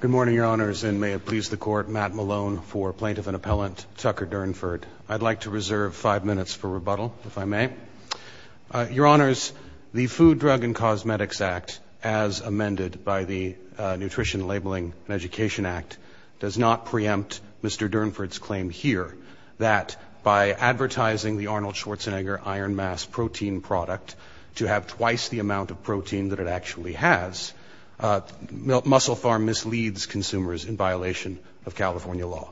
Good morning, Your Honors, and may it please the Court, Matt Malone for Plaintiff and Appellant Tucker Durnford. I'd like to reserve five minutes for rebuttal, if I may. Your Honors, the Food, Drug, and Cosmetics Act, as amended by the Nutrition, Labeling, and Education Act, does not preempt Mr. Durnford's claim here that by advertising the Arnold Schwarzenegger Iron Mass Protein product to have twice the amount of protein that it actually has, MusclePharm misleads consumers in violation of California law.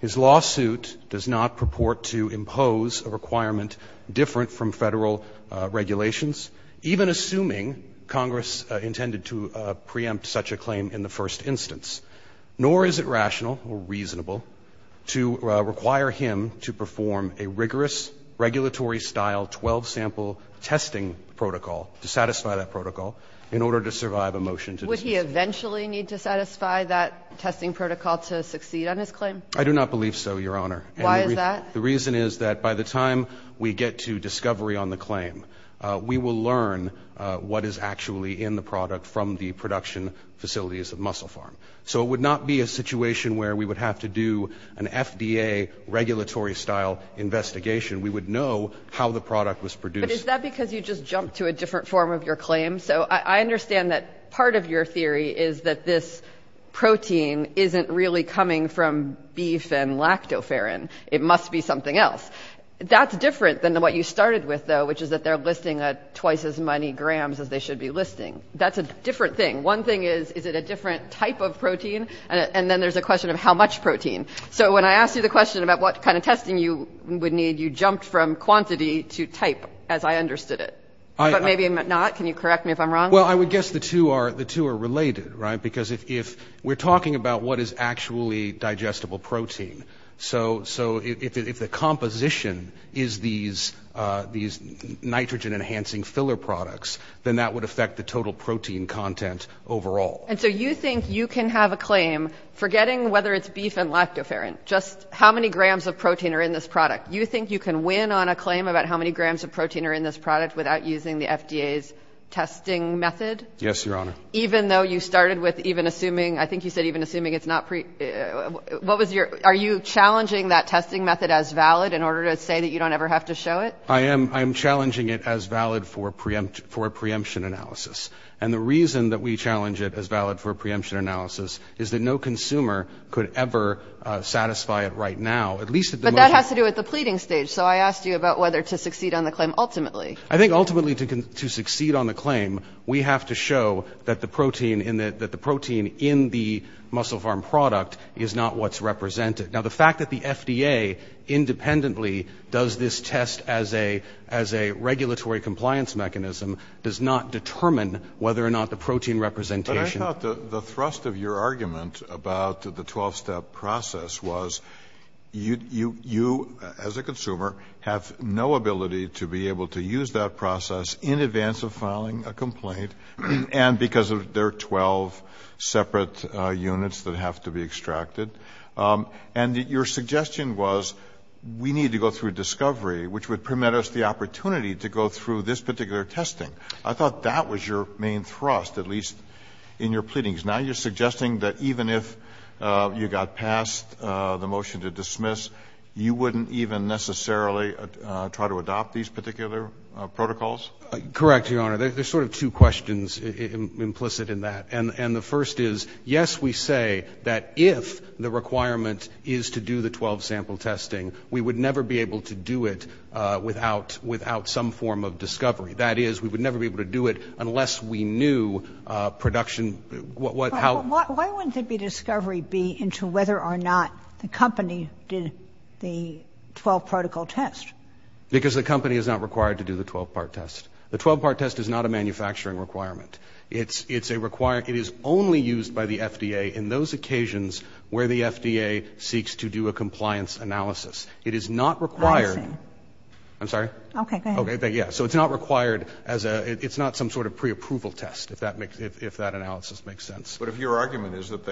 His lawsuit does not purport to impose a requirement different from federal regulations, even assuming Congress intended to preempt such a claim in the first instance, nor is it rational or reasonable to require him to file 12-sample testing protocol to satisfy that protocol in order to survive a motion to dismiss. Would he eventually need to satisfy that testing protocol to succeed on his claim? I do not believe so, Your Honor. Why is that? The reason is that by the time we get to discovery on the claim, we will learn what is actually in the product from the production facilities of MusclePharm. So it would not be a situation where we would have to do an FDA regulatory style investigation. We would know how the product was produced. But is that because you just jumped to a different form of your claim? So I understand that part of your theory is that this protein isn't really coming from beef and lactoferrin. It must be something else. That's different than what you started with, though, which is that they're listing at twice as many grams as they should be listing. That's a different thing. One thing is, is it a different type of protein? And then there's a question of how much protein. So when I asked you the question about what kind of testing you would need, you jumped from quantity to type, as I understood it. But maybe not. Can you correct me if I'm wrong? Well, I would guess the two are related, right? Because if we're talking about what is actually digestible protein, so if the composition is these nitrogen-enhancing filler products, then that would affect the total protein content overall. And so you think you can have a claim, forgetting whether it's beef and lactoferrin, just how many grams of protein are in this product? You think you can win on a claim about how many grams of protein are in this product without using the FDA's testing method? Yes, Your Honor. Even though you started with even assuming, I think you said even assuming it's not pre... What was your... Are you challenging that testing method as valid in order to say that you don't ever have to show it? I am challenging it as valid for preemption analysis. And the reason that we challenge it as valid for preemption analysis is that no consumer could ever satisfy it right now, at least... But that has to do with the pleading stage. So I asked you about whether to succeed on the claim ultimately. I think ultimately to succeed on the claim, we have to show that the protein in the muscle farm product is not what's represented. Now, the fact that the FDA independently does this test as a regulatory compliance mechanism does not determine whether or not the protein representation... But I thought the thrust of your argument about the 12-step process was you, as a consumer, have no ability to be able to use that process in advance of filing a complaint, and because there are 12 separate units that have to be extracted. And your suggestion was we need to go through discovery, which would permit us the opportunity to go through this particular testing. I thought that was your main thrust, at least in your pleadings. Now you're suggesting that even if you got past the motion to dismiss, you wouldn't even necessarily try to adopt these particular protocols? Correct, Your Honor. There's sort of two questions implicit in that. And the first is, yes, we say that if the requirement is to do the 12-sample testing, we would never be able to do it without some form of discovery. That is, we would never be able to do it unless we knew production... Why wouldn't there be discovery be into whether or not the company did the 12-protocol test? Because the company is not required to do the 12-part test. The 12-part test is not a manufacturing requirement. It is only used by the FDA in those occasions where the FDA seeks to do a compliance analysis. I'm sorry? Okay, go ahead. Yeah. So it's not required as a... It's not some sort of pre-approval test, if that analysis makes sense. But if your argument is that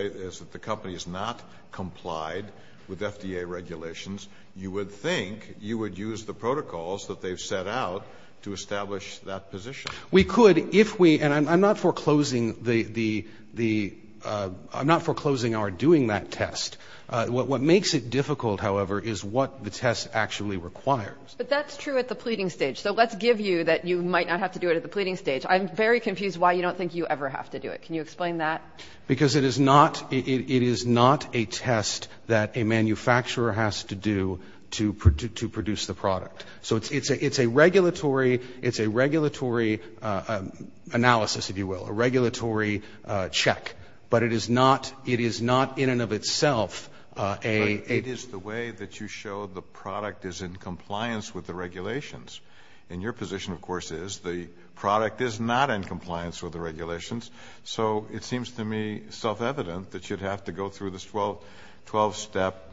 the company is not complied with FDA regulations, you would think you would use the protocols that they've set out to establish that position. We could if we... And I'm not foreclosing our doing that test. What makes it difficult, however, is what the test actually requires. But that's true at the pleading stage. So let's give you that you might not have to do it at the pleading stage. I'm very confused why you don't think you ever have to do it. Can you explain that? Because it is not a test that a manufacturer has to do to produce the product. So it's a regulatory analysis, if you will, a regulatory check. But it is not in and of itself a... It is the way that you show the product is in compliance with the regulations. And your position, of course, is the product is not in compliance with the regulations. So it seems to me self-evident that you'd have to go through this 12-step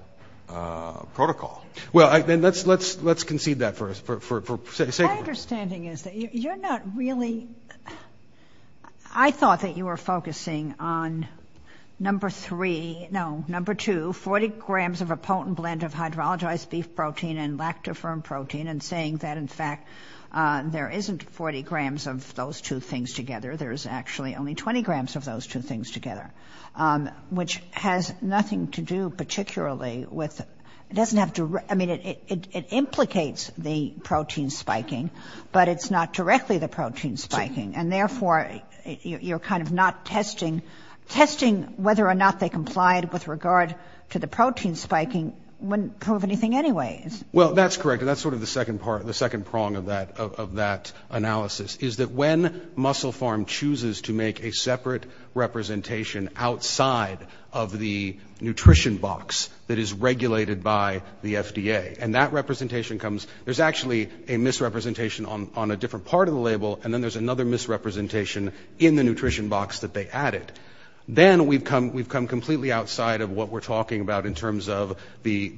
protocol. Well, then let's concede that for sake of... My understanding is that you're not really... I thought that you were focusing on number three... No, number two, 40 grams of a potent blend of hydrolyzed beef protein and lactoferrin protein and saying that, in fact, there isn't 40 grams of those two things together. There's actually only 20 grams of those two things together, which has nothing to do particularly with... It doesn't have to... I mean, it implicates the protein spiking, but it's not directly the protein spiking. And therefore, you're kind of not testing. Testing whether or not they complied with regard to the protein spiking wouldn't prove anything anyway. Well, that's correct. And that's sort of the second part, the second prong of that analysis, is that when MusclePharm chooses to make a separate representation outside of the nutrition box that is regulated by the FDA, and that representation comes... There's actually a misrepresentation on a different part of the label, and then there's another misrepresentation in the nutrition box that they added. Then we've come completely outside of what we're talking about in terms of the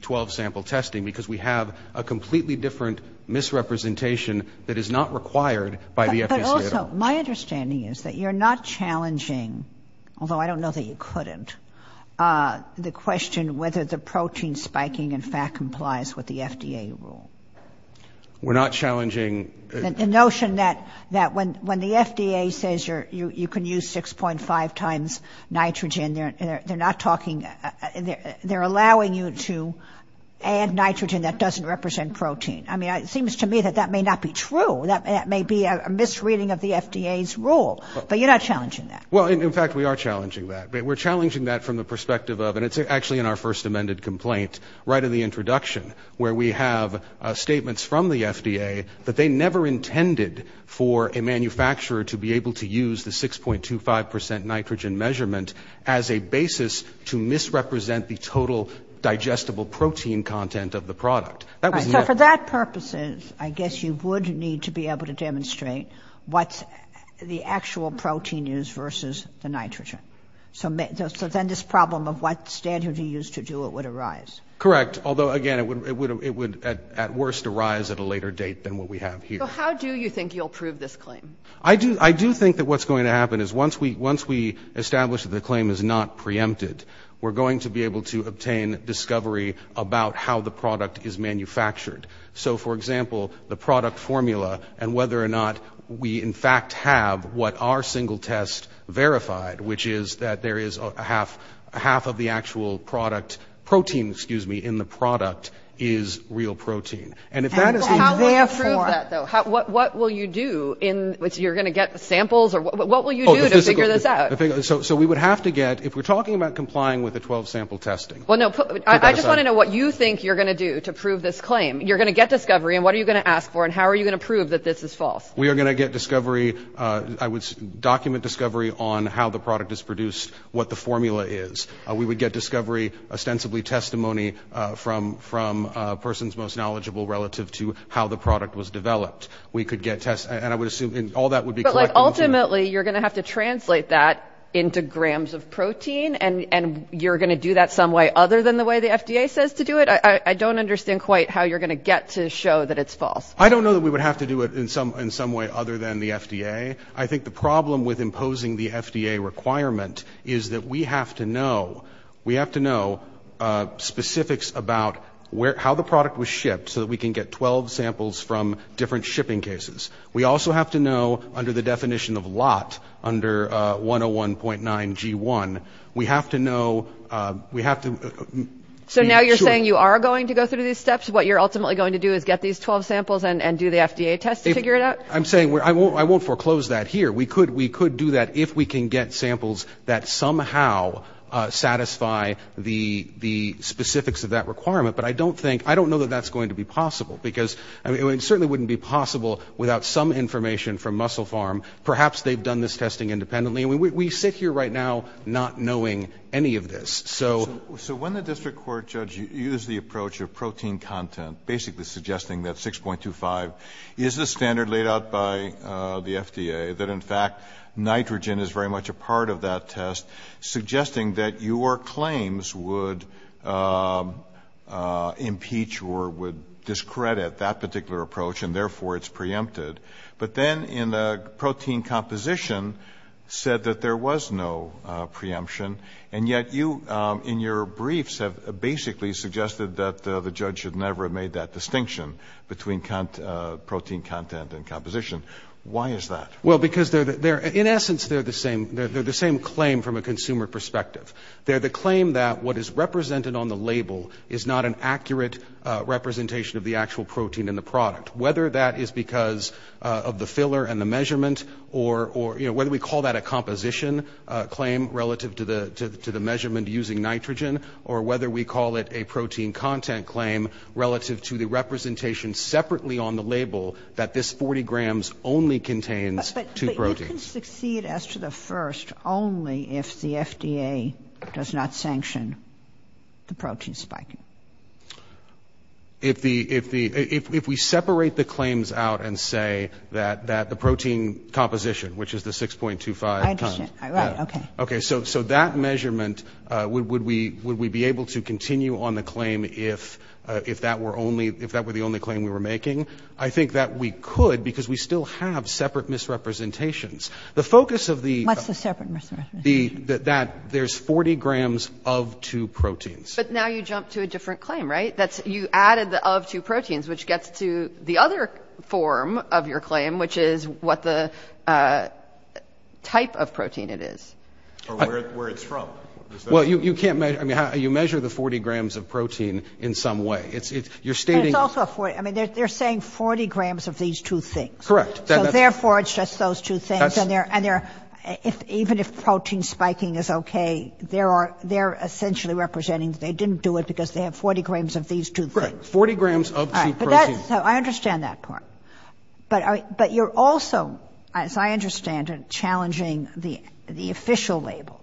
12-sample testing, because we have a completely different misrepresentation that is not required by the FDA. But also, my understanding is that you're not challenging, although I don't know that you couldn't, the question whether the protein spiking, in fact, complies with the FDA rule. We're not challenging... The notion that when the FDA says you can use 6.5 times nitrogen, they're not talking... They're allowing you to add nitrogen that doesn't represent protein. I mean, it seems to me that that may not be true. That may be a misreading of the FDA's rule. But you're not challenging that. Well, in fact, we are challenging that. We're challenging it right in the introduction, where we have statements from the FDA that they never intended for a manufacturer to be able to use the 6.25% nitrogen measurement as a basis to misrepresent the total digestible protein content of the product. So for that purposes, I guess you would need to be able to demonstrate what the actual protein is versus the nitrogen. So then this problem of what standard you use to do it would arise. Correct. Although, again, it would at worst arise at a later date than what we have here. So how do you think you'll prove this claim? I do think that what's going to happen is once we establish that the claim is not preempted, we're going to be able to obtain discovery about how the product is manufactured. So, for example, the product formula and whether or not we, in fact, have what our single test verified, which is that there is a half of the actual product, protein, excuse me, in the product is real protein. And if that is the exact form. How will you prove that, though? What will you do? You're going to get samples? What will you do to figure this out? So we would have to get, if we're talking about complying with the 12-sample testing. Well, no, I just want to know what you think you're going to do to prove this claim. You're going to get discovery, and what are you going to ask for, and how are you going to prove that this is false? We are going to get discovery. I would document discovery on how the product is produced, what the formula is. We would get discovery, ostensibly testimony from a person's most knowledgeable relative to how the product was developed. We could get tests, and I would assume all that would be correct. But ultimately, you're going to have to translate that into grams of protein, and you're going to do that some way other than the way the FDA says to do it? I don't understand quite how you're going to get to show that it's false. I don't know that we would have to do it in some way other than the FDA. I think the problem with imposing the FDA requirement is that we have to know specifics about how the product was shipped so that we can get 12 samples from different shipping cases. We also have to know, under the definition of lot, under 101.9 G1, we have to know... So now you're saying you are going to go through these steps? What you're ultimately going to do is get these 12 samples and do the FDA test to figure it out? I'm saying I won't foreclose that here. We could do that if we can get samples that somehow satisfy the specifics of that requirement. But I don't know that that's going to be possible, because it certainly wouldn't be possible without some information from MusclePharm. Perhaps they've done this testing independently. We sit here right now not knowing any of this. So when the district court judge used the approach of protein content, basically suggesting that 6.25 is the standard laid out by the FDA, that in fact nitrogen is very much a part of that test, suggesting that your claims would impeach or would discredit that particular approach, and therefore it's preempted. But then in the protein composition, said that there was no preemption, and yet you in your briefs have basically suggested that the judge should never have made that distinction between protein content and composition. Why is that? Well because in essence they're the same claim from a consumer perspective. They're the claim that what is represented on the label is not an accurate representation of the actual protein in the product. Whether that is because of the filler and the measurement, or whether we call that a composition claim relative to the measurement using nitrogen, or whether we call it a protein content claim relative to the representation separately on the label that this 40 grams only contains two proteins. But you can succeed as to the first only if the FDA does not sanction the protein spiking. If the, if we separate the claims out and say that the protein composition, which is the 6.25 times. I understand. Right. Okay. So that measurement, would we be able to continue on the claim if that were only, if that were the only claim we were making? I think that we could because we still have separate misrepresentations. The focus of the What's the separate misrepresentation? There's 40 grams of two proteins. But now you jump to a different claim, right? That's, you added the of two proteins, which gets to the other form of your claim, which is what the type of protein it is. Or where it's from. Well, you can't measure, I mean, you measure the 40 grams of protein in some way. It's, you're stating But it's also a 40, I mean, they're saying 40 grams of these two things. Correct. So therefore, it's just those two things. And they're, and they're, if, even if protein spiking is okay, there are, they're essentially representing that they didn't do it because they have 40 grams of these two things. Right. 40 grams of two proteins. All right. But that's, so I understand that part. But, but you're also, as I understand it, challenging the, the official label.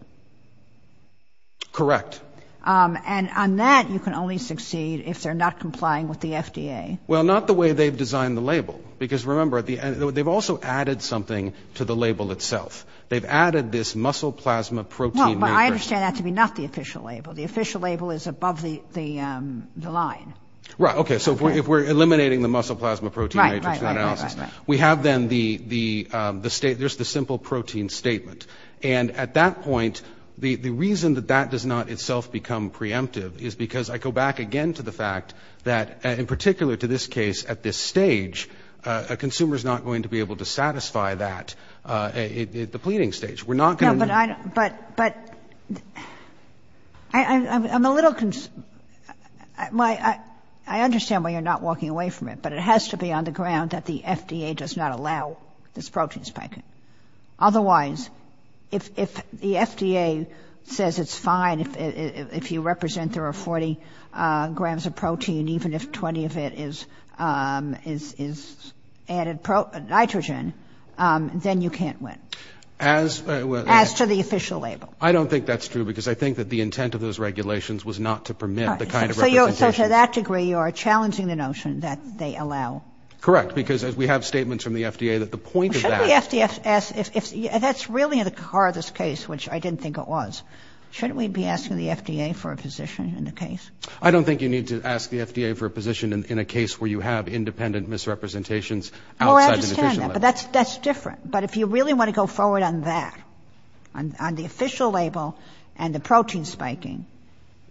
Correct. And on that, you can only succeed if they're not complying with the FDA. Well, not the way they've designed the label. Because remember, at the end, they've also added something to the label itself. They've added this muscle plasma protein matrix. No, but I understand that to be not the official label. The official label is above the, the line. Right. Okay. So if we're, if we're eliminating the muscle plasma protein matrix, we have then the, the, the state, there's the simple protein statement. And at that point, the reason that that does not itself become preemptive is because I go back again to the fact that, in particular to this case, at this stage, a consumer is not going to be able to satisfy that at the pleading stage. We're not going to... No, but I, but, but I'm a little, my, I understand why you're not walking away from it, but it has to be on the ground that the FDA does not allow this protein spiking. Otherwise, if, if the FDA says it's fine, if, if, if you represent there are 40 grams of protein, even if 20 of it is, is, is added nitrogen, then you can't win. As... As to the official label. I don't think that's true, because I think that the intent of those regulations was not to permit the kind of representation... So you're, so to that degree, you are challenging the notion that they allow... Shouldn't the FDA ask, if, if, that's really the heart of this case, which I didn't think it was, shouldn't we be asking the FDA for a position in the case? I don't think you need to ask the FDA for a position in, in a case where you have independent misrepresentations outside the official label. Oh, I understand that, but that's, that's different. But if you really want to go forward on that, on, on the official label and the protein spiking,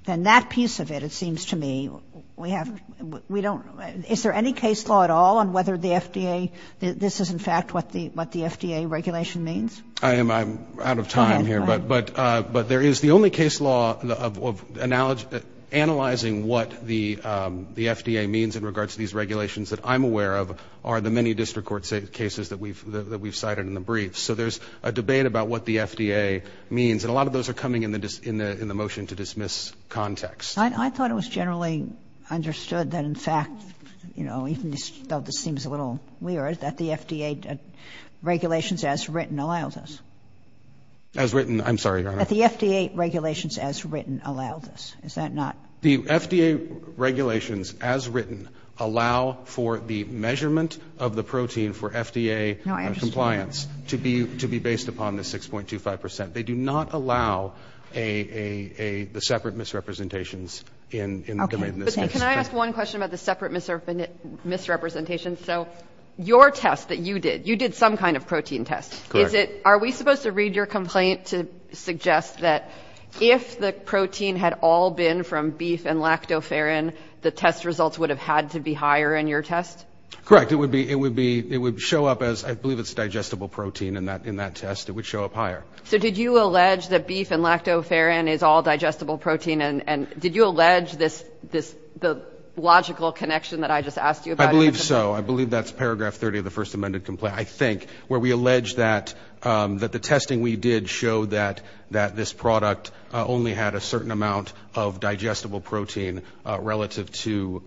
then that piece of it, it seems to me, we have, we don't, is there any case law at all on whether the FDA, this is in fact what the, what the FDA regulation means? I am, I'm out of time here, but, but, but there is the only case law of, of, of analyzing what the, the FDA means in regards to these regulations that I'm aware of are the many district court cases that we've, that we've cited in the briefs. So there's a debate about what the FDA means, and a lot of those are coming in the, in the, in the motion to dismiss context. I, I thought it was generally understood that in fact, you know, even though this seems a little weird, that the FDA regulations as written allows us. As written, I'm sorry, Your Honor. That the FDA regulations as written allows us, is that not? The FDA regulations as written allow for the measurement of the protein for FDA compliance to be, to be based upon the 6.25%. They do not allow a, a, a, the separate misrepresentations in, in, in this case. Can I ask one question about the separate misrepresentation? So your test that you did, you did some kind of protein test. Is it, are we supposed to read your complaint to suggest that if the protein had all been from beef and lactoferrin, the test results would have had to be higher in your test? Correct. It would be, it would be, it would show up as, I believe it's digestible protein in that, in that test, it would show up higher. So did you allege that beef and lactoferrin is all digestible protein? And, and did you have the logical connection that I just asked you about? I believe so. I believe that's paragraph 30 of the first amended complaint, I think, where we allege that, that the testing we did showed that, that this product only had a certain amount of digestible protein relative to,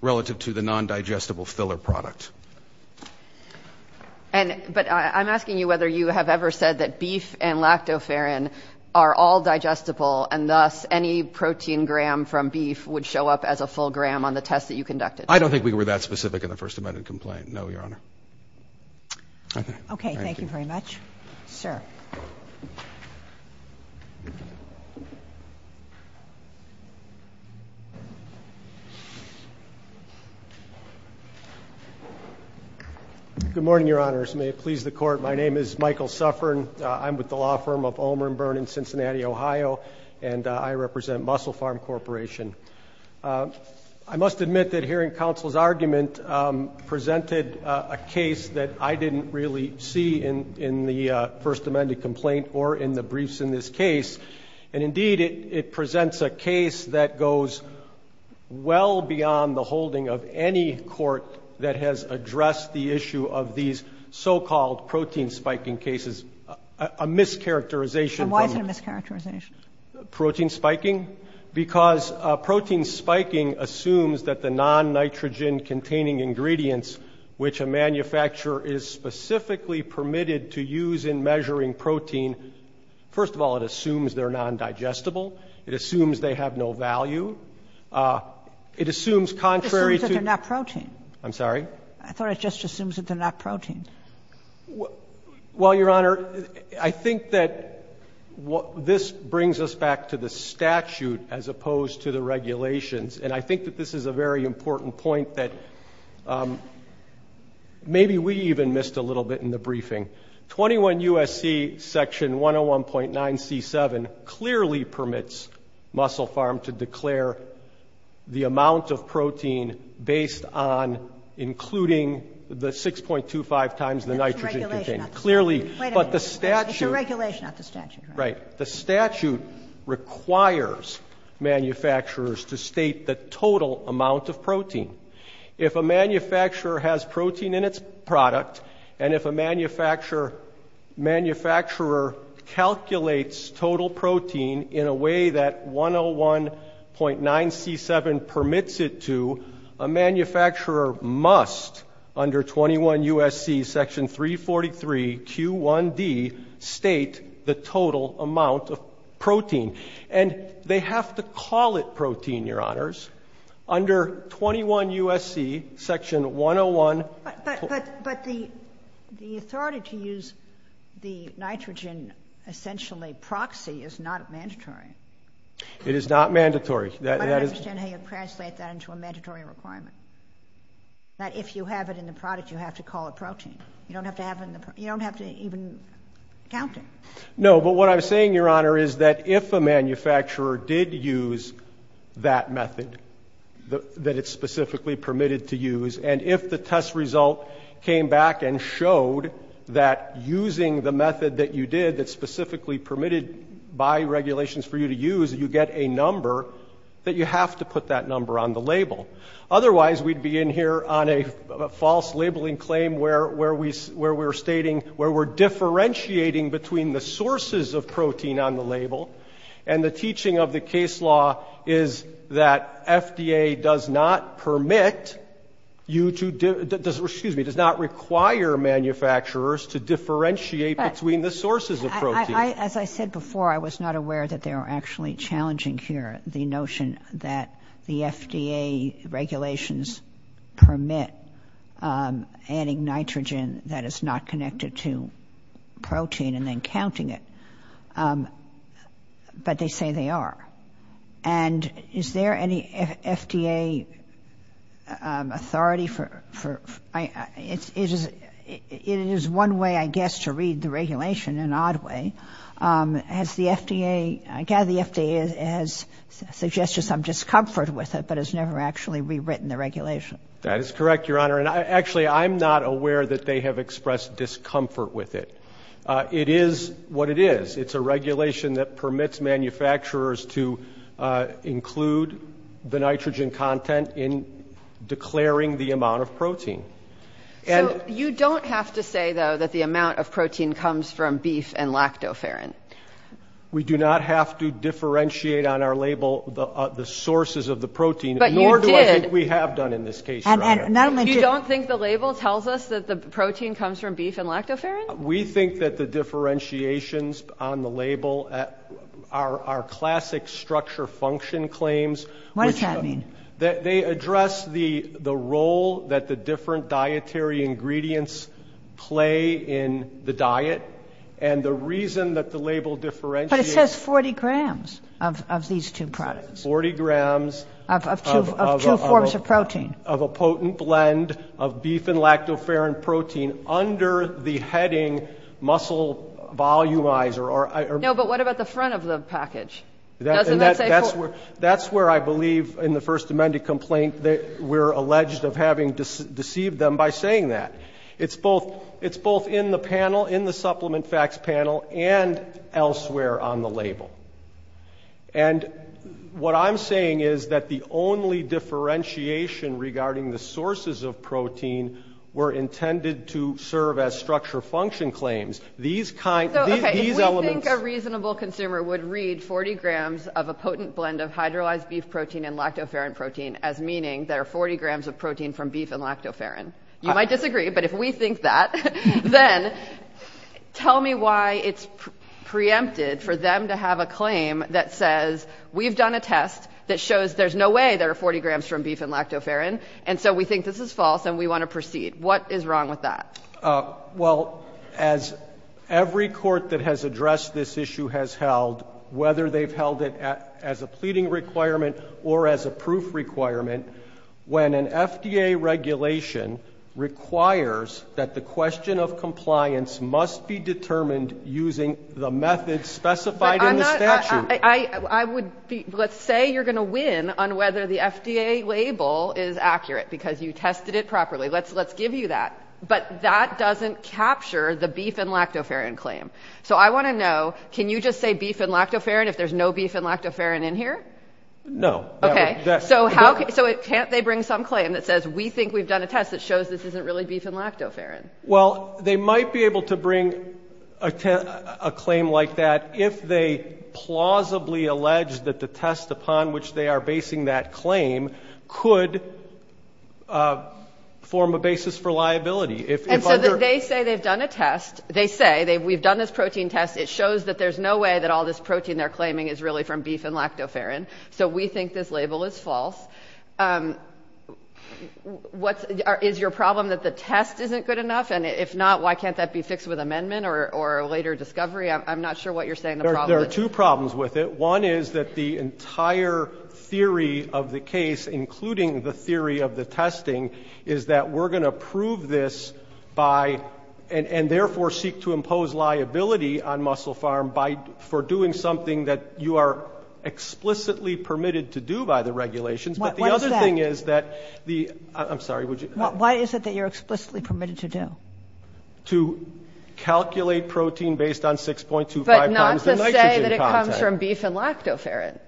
relative to the non-digestible filler product. And but I'm asking you whether you have ever said that beef and lactoferrin are all digestible and thus any protein gram from beef would show up as a full gram on the test that you conducted. I don't think we were that specific in the first amended complaint. No, Your Honor. Okay. Thank you very much, sir. Good morning, Your Honors. May it please the court. My name is Michael Suffern. I'm with the law firm of Omer and Byrne in Cincinnati, Ohio, and I represent Muscle Farm Corporation. I must admit that hearing counsel's argument presented a case that I didn't really see in, in the first amended complaint or in the briefs in this case. And indeed, it presents a case that goes well beyond the holding of any court that has addressed the issue of these so-called protein spiking cases, a mischaracterization from- And why is it a mischaracterization? Protein spiking? Because protein spiking assumes that the non-nitrogen containing ingredients which a manufacturer is specifically permitted to use in measuring protein, first of all, it assumes they're non-digestible. It assumes they have no value. It assumes contrary to- It assumes that they're not protein. I'm sorry? I thought it just assumes that they're not protein. Well, Your Honor, I think that this brings us back to the statute as opposed to the regulations. And I think that this is a very important point that maybe we even missed a little bit in the briefing. 21 U.S.C. Section 101.9C7 clearly permits Muscle Farm to declare the including the 6.25 times the nitrogen contained. That's a regulation, not the statute. Clearly. Wait a minute. But the statute- It's a regulation, not the statute. Right. The statute requires manufacturers to state the total amount of protein. If a manufacturer has protein in its product, and if a manufacturer calculates total protein in a way that 101.9C7 permits it to, a manufacturer must, under 21 U.S.C. Section 343Q1D, state the total amount of protein. And they have to call it protein, Your Honors. Under 21 U.S.C. Section 101- But the authority to use the nitrogen essentially proxy is not mandatory. It is not mandatory. But I don't understand how you translate that into a mandatory requirement, that if you have it in the product, you have to call it protein. You don't have to even count it. No. But what I'm saying, Your Honor, is that if a manufacturer did use that method, that it's specifically permitted to use, and if the test result came back and showed that using the method that you did, that's specifically permitted by regulations for you to use, you get a number, that you have to put that number on the label. Otherwise, we'd be in here on a false labeling claim where we're stating, where we're differentiating between the sources of protein on the label, and the teaching of the case law is that FDA does not permit you to, excuse me, does not require manufacturers to differentiate between the sources of protein. But, as I said before, I was not aware that they were actually challenging here the notion that the FDA regulations permit adding nitrogen that is not connected to protein and then counting it. But they say they are. And is there any FDA authority for, it is one way, I guess, to read the regulation in an odd way. Has the FDA, I gather the FDA has suggested some discomfort with it, but has never actually rewritten the regulation. That is correct, Your Honor. Actually, I'm not aware that they have expressed discomfort with it. It is what it is. It's a regulation that permits manufacturers to include the nitrogen content in declaring the amount of protein. So, you don't have to say, though, that the amount of protein comes from beef and lactoferrin? We do not have to differentiate on our label the sources of the protein, nor do I think we have done in this case, Your Honor. You don't think the label tells us that the protein comes from beef and lactoferrin? We think that the differentiations on the label are classic structure function claims. What does that mean? They address the role that the different dietary ingredients play in the diet. And the reason that the label differentiates... But it says 40 grams of these two products. Forty grams... Of two forms of protein. Of a potent blend of beef and lactoferrin protein under the heading muscle volumizer. No, but what about the front of the package? That's where I believe in the First Amendment complaint that we're alleged of having deceived them by saying that. It's both in the panel, in the Supplement Facts panel, and elsewhere on the label. And what I'm saying is that the only differentiation regarding the sources of protein were intended to serve as structure function claims. These elements... 40 grams of a potent blend of hydrolyzed beef protein and lactoferrin protein as meaning there are 40 grams of protein from beef and lactoferrin. You might disagree, but if we think that, then tell me why it's preempted for them to have a claim that says, we've done a test that shows there's no way there are 40 grams from beef and lactoferrin. And so we think this is false and we want to proceed. What is wrong with that? Well, as every court that has addressed this issue has held, whether they've held it as a pleading requirement or as a proof requirement, when an FDA regulation requires that the question of compliance must be determined using the method specified in the statute... But I'm not — I would be — let's say you're going to win on whether the FDA label is accurate because you tested it properly. Let's give you that. But that doesn't capture the beef and lactoferrin claim. So I want to know, can you just say beef and lactoferrin if there's no beef and lactoferrin in here? No. Okay. So how — so can't they bring some claim that says, we think we've done a test that shows this isn't really beef and lactoferrin? Well, they might be able to bring a claim like that if they plausibly allege that the And so they say they've done a test. They say, we've done this protein test. It shows that there's no way that all this protein they're claiming is really from beef and lactoferrin. So we think this label is false. What's — is your problem that the test isn't good enough? And if not, why can't that be fixed with amendment or a later discovery? I'm not sure what you're saying the problem is. One is that the entire theory of the case, including the theory of the testing, is that we're going to prove this by — and therefore seek to impose liability on MusclePharm by — for doing something that you are explicitly permitted to do by the regulations. What's that? But the other thing is that the — I'm sorry, would you — Why is it that you're explicitly permitted to do? To calculate protein based on 6.25 times the nitrogen content. That's from beef and lactoferrin.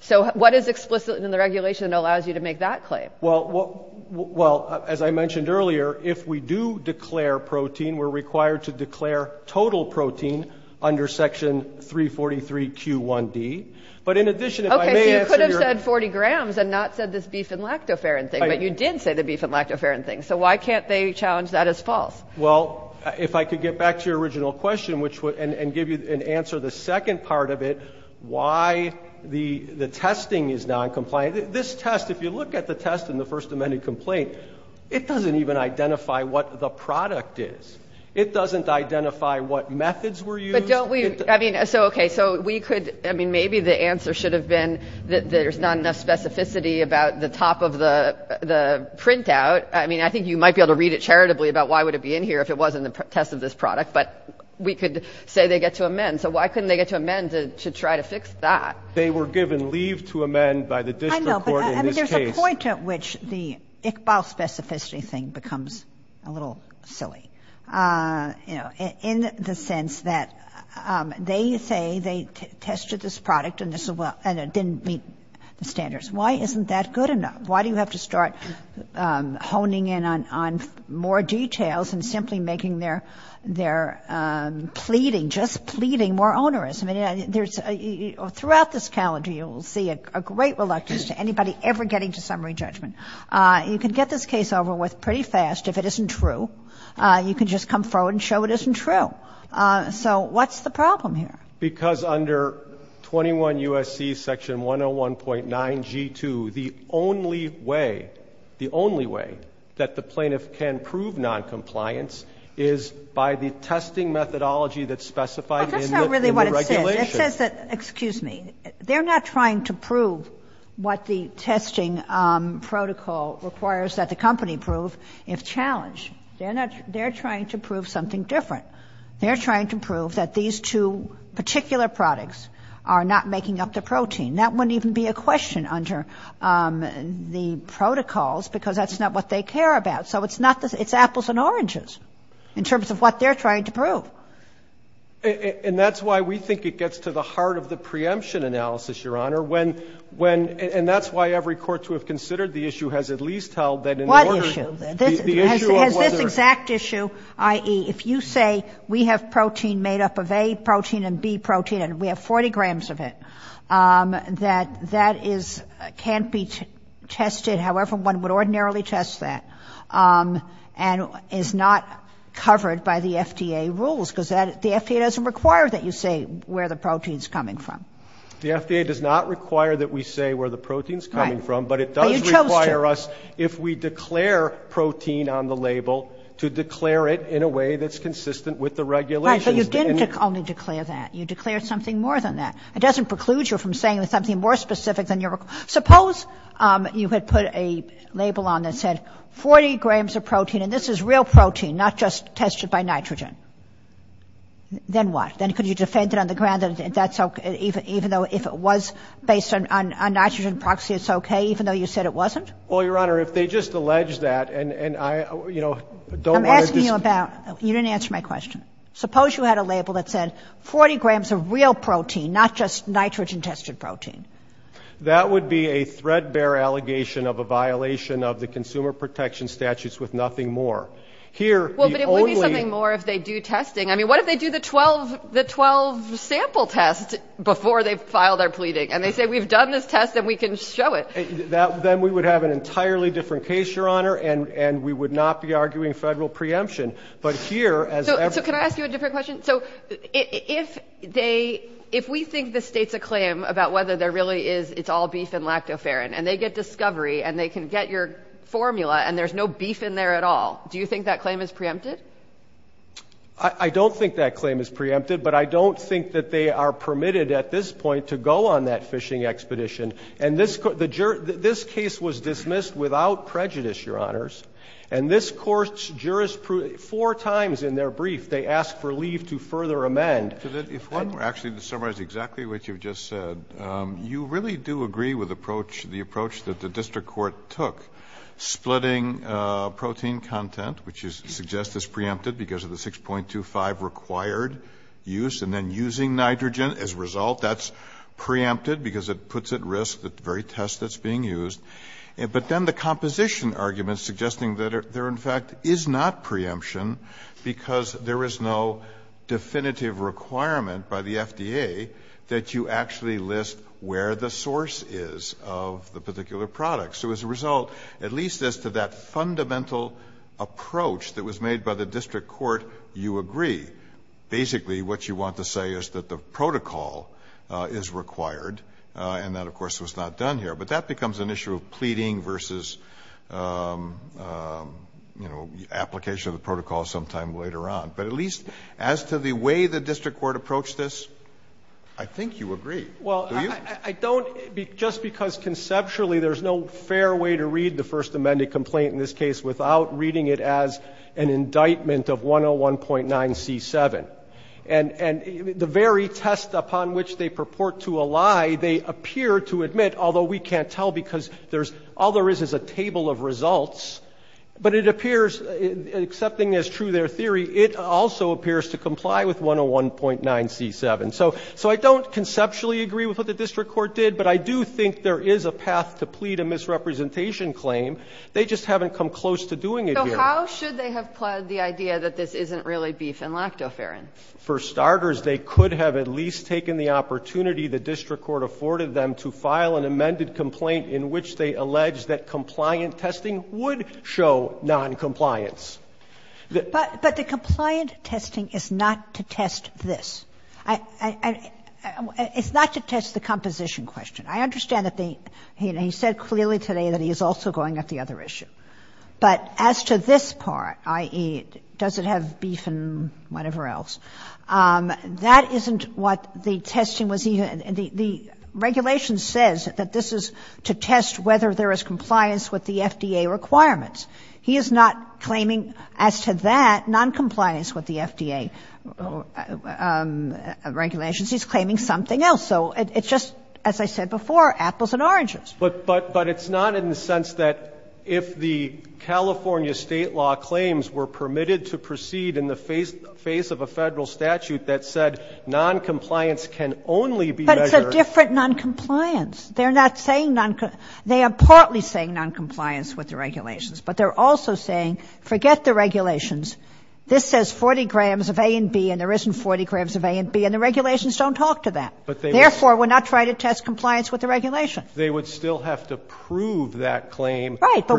So what is explicit in the regulation that allows you to make that claim? Well, as I mentioned earlier, if we do declare protein, we're required to declare total protein under section 343Q1D. But in addition, if I may answer your — Okay, so you could have said 40 grams and not said this beef and lactoferrin thing, but you did say the beef and lactoferrin thing. So why can't they challenge that as false? Well, if I could get back to your original question, which would — and give you an idea of the second part of it, why the testing is noncompliant. This test, if you look at the test in the first amended complaint, it doesn't even identify what the product is. It doesn't identify what methods were used. But don't we — I mean, so, okay, so we could — I mean, maybe the answer should have been that there's not enough specificity about the top of the printout. I mean, I think you might be able to read it charitably about why would it be in here if it wasn't a test of this product. But we could say they get to amend. So why couldn't they get to amend to try to fix that? They were given leave to amend by the district court in this case. I know, but I mean, there's a point at which the Iqbal specificity thing becomes a little silly, you know, in the sense that they say they tested this product and it didn't meet the standards. Why isn't that good enough? Why do you have to start honing in on more details and simply making their pleading, just pleading more onerous? I mean, there's — throughout this calendar, you will see a great reluctance to anybody ever getting to summary judgment. You can get this case over with pretty fast if it isn't true. You can just come forward and show it isn't true. So what's the problem here? Because under 21 U.S.C. section 101.9G2, the only way, the only way that the plaintiff can prove noncompliance is by the testing methodology that's specified in the regulations. But that's not really what it says. It says that, excuse me, they're not trying to prove what the testing protocol requires that the company prove if challenged. They're not — they're trying to prove something different. They're trying to prove that these two particular products are not making up the protein. That wouldn't even be a question under the protocols, because that's not what they care about. So it's not — it's apples and oranges in terms of what they're trying to prove. And that's why we think it gets to the heart of the preemption analysis, Your Honor, when — and that's why every court to have considered the issue has at least held that in order — What issue? The issue of whether — Has this exact issue, i.e., if you say we have protein made up of A protein and B protein and we have 40 grams of it, that that is — can't be tested however one would ordinarily test that and is not covered by the FDA rules, because the FDA doesn't require that you say where the protein's coming from. The FDA does not require that we say where the protein's coming from, but it does require us if we declare protein on the label to declare it in a way that's consistent with the regulations. Right, but you didn't only declare that. You declared something more than that. It doesn't preclude you from saying something more specific than your — suppose you had put a label on that said, 40 grams of protein, and this is real protein, not just tested by nitrogen. Then what? Then could you defend it on the ground that that's okay, even though if it was based on a nitrogen proxy, it's okay, even though you said it wasn't? Well, Your Honor, if they just allege that, and I, you know, don't want to — I'm asking you about — you didn't answer my question. Suppose you had a label that said 40 grams of real protein, not just nitrogen-tested protein. That would be a threadbare allegation of a violation of the consumer protection statutes with nothing more. Here, the only — Well, but it would be something more if they do testing. I mean, what if they do the 12 sample tests before they file their pleading, and they say, we've done this test, and we can show it? That — then we would have an entirely different case, Your Honor, and we would not be arguing federal preemption. But here, as — So can I ask you a different question? So if they — if we think the state's a claim about whether there really is — it's all beef and lactoferrin, and they get discovery, and they can get your formula, and there's no beef in there at all, do you think that claim is preempted? I don't think that claim is preempted, but I don't think that they are permitted at this point to go on that fishing expedition. And this — the jur — this case was dismissed without prejudice, Your Honors. And this Court's jurispru — four times in their brief, they asked for leave to further amend. If one were actually to summarize exactly what you've just said, you really do agree with approach — the approach that the district court took, splitting protein content, which is — suggests it's preempted because of the 6.25 required use, and then using nitrogen as a result, that's preempted because it puts at risk the very test that's being used. But then the composition argument suggesting that there, in fact, is not preemption because there is no definitive requirement by the FDA that you actually list where the source is of the particular product. So as a result, at least as to that fundamental approach that was made by the district court, you agree. Basically, what you want to say is that the protocol is required, and that, of course, was not done here. But that becomes an issue of pleading versus, you know, application of the protocol sometime later on. But at least as to the way the district court approached this, I think you agree. Do you? Well, I don't — just because conceptually there's no fair way to read the First Amendment complaint in this case without reading it as an indictment of 101.9c7. And — and the very test upon which they purport to a lie, they appear to admit, although we can't tell because there's — all there is is a table of results, but it appears, accepting as true their theory, it also appears to comply with 101.9c7. So I don't conceptually agree with what the district court did, but I do think there is a path to plead a misrepresentation claim. They just haven't come close to doing it here. So how should they have pled the idea that this isn't really beef and lactoferrin? For starters, they could have at least taken the opportunity the district court afforded them to file an amended complaint in which they allege that compliant testing would show noncompliance. But the compliant testing is not to test this. I — it's not to test the composition question. I understand that the — he said clearly today that he is also going at the other issue. But as to this part, i.e., does it have beef and whatever else, that isn't what the district court is going to do. It's not to test whether there is compliance with the FDA requirements. He is not claiming, as to that, noncompliance with the FDA regulations. He's claiming something else. So it's just, as I said before, apples and oranges. But it's not in the sense that if the California state law claims were permitted to proceed in the face of a Federal statute that said noncompliance can only be measured — But it's a different noncompliance. They're not saying — they are partly saying noncompliance with the regulations. But they're also saying, forget the regulations. This says 40 grams of A and B, and there isn't 40 grams of A and B, and the regulations don't talk to that. Therefore, we're not trying to test compliance with the regulation. They would still have to prove that claim — Right. But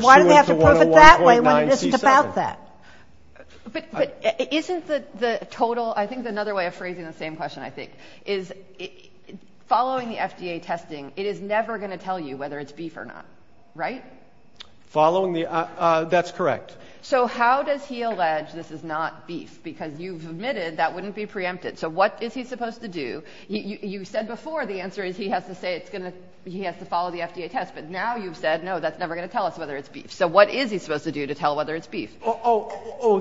isn't the total — I think another way of phrasing the same question, I think, is following the FDA testing, it is never going to tell you whether it's beef or not, right? Following the — that's correct. So how does he allege this is not beef? Because you've admitted that wouldn't be preempted. So what is he supposed to do? You said before the answer is he has to say it's going to — he has to follow the FDA test. But now you've said, no, that's never going to tell us whether it's beef. So what is he supposed to do to tell whether it's beef? Oh,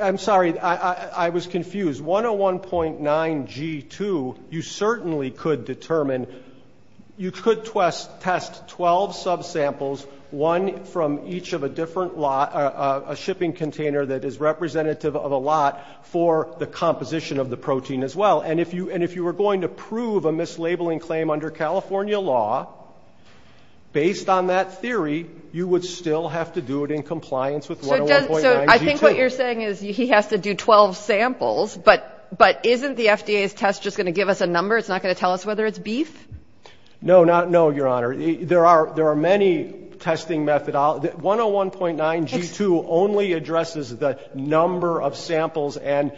I'm sorry. I was confused. 101.9 G2, you certainly could determine — you could test 12 subsamples, one from each of a different — a shipping container that is representative of a lot for the composition of the protein as well. And if you were going to prove a mislabeling claim under California law, based on that So does — so I think what you're saying is he has to do 12 samples, but isn't the FDA's test just going to give us a number? It's not going to tell us whether it's beef? No, not — no, Your Honor. There are many testing — 101.9 G2 only addresses the number of samples and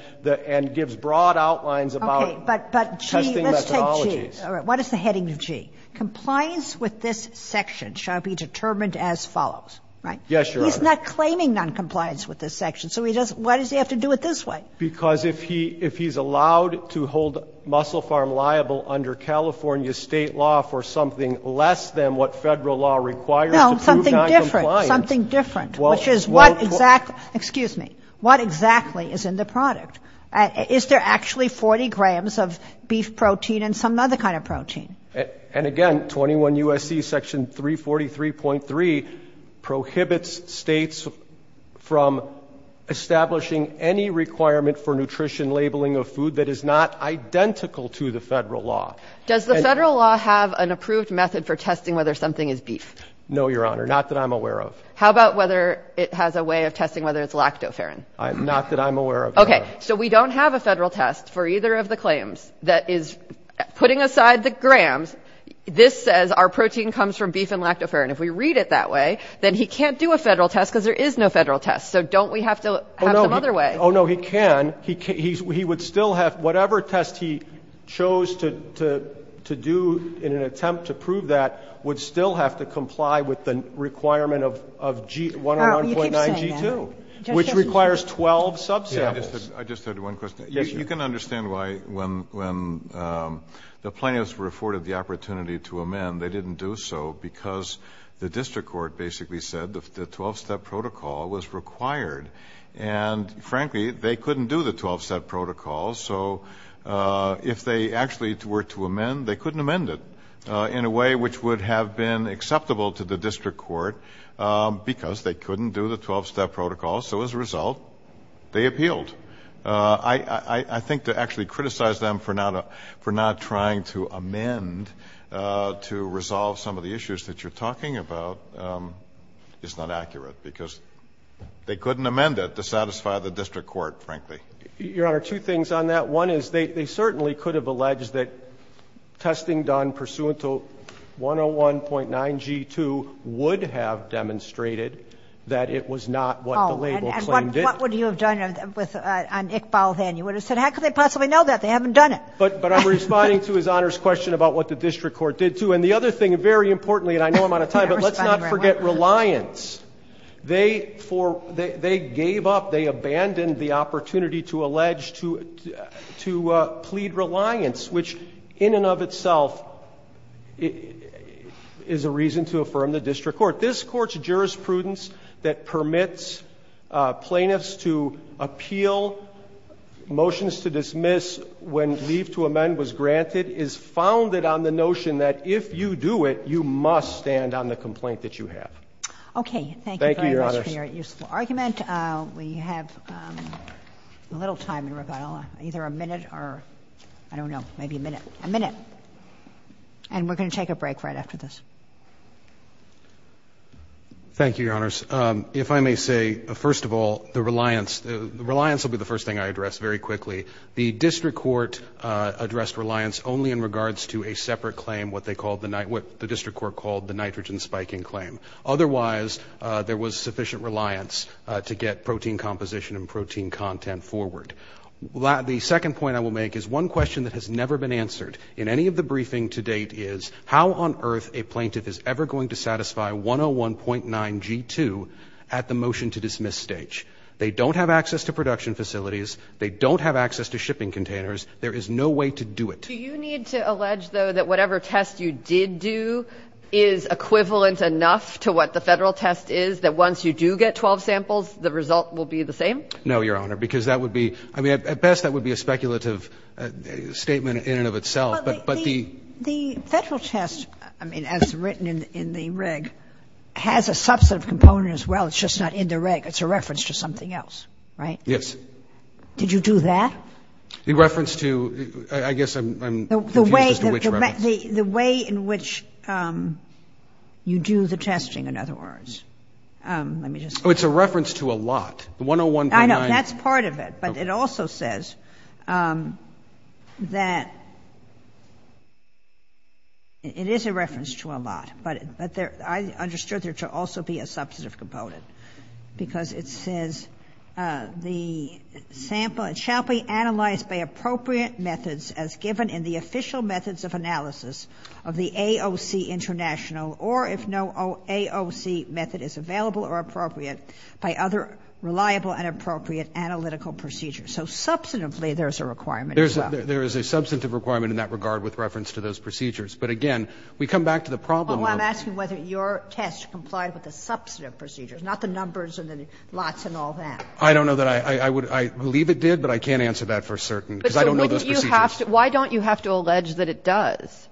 gives broad outlines about testing methodologies. Okay. But G — let's take G. All right. What is the heading of G? Compliance with this section shall be determined as follows, right? Yes, Your Honor. He's not claiming noncompliance with this section, so he doesn't — why does he have to do it this way? Because if he — if he's allowed to hold Muscle Farm liable under California state law for something less than what Federal law requires to prove noncompliance — No, something different. Something different. Well — Which is what exactly — excuse me. What exactly is in the product? Is there actually 40 grams of beef protein and some other kind of protein? And again, 21 U.S.C. section 343.3 prohibits states from establishing any requirement for nutrition labeling of food that is not identical to the Federal law. Does the Federal law have an approved method for testing whether something is beef? No, Your Honor. Not that I'm aware of. How about whether it has a way of testing whether it's lactoferrin? Not that I'm aware of, Your Honor. Okay. So we don't have a Federal test for either of the claims that is — putting aside the grams, this says our protein comes from beef and lactoferrin. If we read it that way, then he can't do a Federal test because there is no Federal test. So don't we have to have some other way? Oh, no. Oh, no. He can. He would still have — whatever test he chose to do in an attempt to prove that would still have to comply with the requirement of G — 101.9 G2. All right. Well, you keep saying that. Which requires 12 subsamples. I just had one question. Yes, Your Honor. You can understand why, when the plaintiffs were afforded the opportunity to amend, they didn't do so because the district court basically said the 12-step protocol was required. And frankly, they couldn't do the 12-step protocol. So if they actually were to amend, they couldn't amend it in a way which would have been acceptable to the district court because they couldn't do the 12-step protocol. So as a result, they appealed. I think to actually criticize them for not trying to amend to resolve some of the issues that you're talking about is not accurate because they couldn't amend it to satisfy the district court, frankly. Your Honor, two things on that. One is they certainly could have alleged that testing done pursuant to 101.9 G2 would have demonstrated that it was not what the label claimed it. And what would you have done on Iqbal then? You would have said, how could they possibly know that? They haven't done it. But I'm responding to His Honor's question about what the district court did, too. And the other thing, very importantly, and I know I'm out of time, but let's not forget reliance. They gave up, they abandoned the opportunity to allege, to plead reliance, which in and of itself is a reason to affirm the district court. This Court's jurisprudence that permits plaintiffs to appeal, motions to dismiss when leave to amend was granted, is founded on the notion that if you do it, you must stand on the complaint that you have. Okay. Thank you, Your Honor. Thank you very much for your useful argument. We have a little time in Ravella, either a minute or, I don't know, maybe a minute. A minute. And we're going to take a break right after this. Thank you, Your Honors. If I may say, first of all, the reliance, the reliance will be the first thing I address very quickly. The district court addressed reliance only in regards to a separate claim, what they called the, what the district court called the nitrogen spiking claim. Otherwise, there was sufficient reliance to get protein composition and protein content forward. The second point I will make is one question that has never been answered in any of the cases where the plaintiff is ever going to satisfy 101.9G2 at the motion to dismiss stage. They don't have access to production facilities. They don't have access to shipping containers. There is no way to do it. Do you need to allege, though, that whatever test you did do is equivalent enough to what the Federal test is, that once you do get 12 samples, the result will be the same? No, Your Honor, because that would be, I mean, at best, that would be a speculative statement in and of itself. But the Federal test, I mean, as written in the reg, has a subset of components as well. It's just not in the reg. It's a reference to something else, right? Yes. Did you do that? The reference to, I guess I'm confused as to which reference. The way in which you do the testing, in other words. Let me just. Oh, it's a reference to a lot. The 101.9. I know. That's part of it. But it also says that it is a reference to a lot. But I understood there to also be a substantive component, because it says the sample shall be analyzed by appropriate methods as given in the official methods of analysis of the AOC International, or if no AOC method is available or appropriate, by other reliable and appropriate analytical procedures. So substantively, there's a requirement as well. There is a substantive requirement in that regard with reference to those procedures. But again, we come back to the problem of. Oh, I'm asking whether your test complied with the substantive procedures, not the numbers and the lots and all that. I don't know that I would. I believe it did, but I can't answer that for certain, because I don't know those procedures. Why don't you have to allege that it does?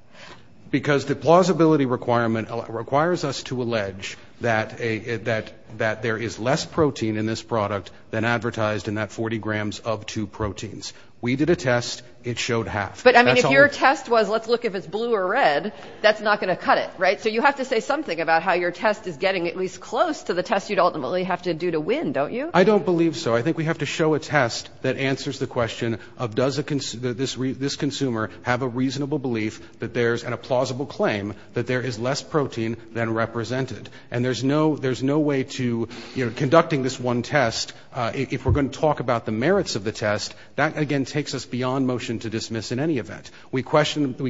Because the plausibility requirement requires us to allege that there is less protein in this product than advertised in that 40 grams of two proteins. We did a test. It showed half. But I mean, if your test was, let's look if it's blue or red, that's not going to cut it, right? So you have to say something about how your test is getting at least close to the test you'd ultimately have to do to win, don't you? I don't believe so. I think we have to show a test that answers the question of does this consumer have a reasonable belief that there's and a plausible claim that there is less protein than represented. And there's no way to, you know, conducting this one test, if we're going to talk about the merits of the test, that again takes us beyond motion to dismiss in any event. We question the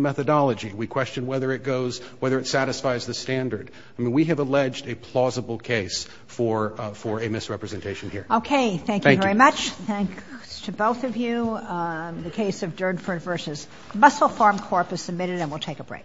methodology. We question whether it goes, whether it satisfies the standard. I mean, we have alleged a plausible case for a misrepresentation here. Okay. Thank you very much. Thanks to both of you. The case of Durnford versus Muscle Farm Corp is submitted and we'll take a break.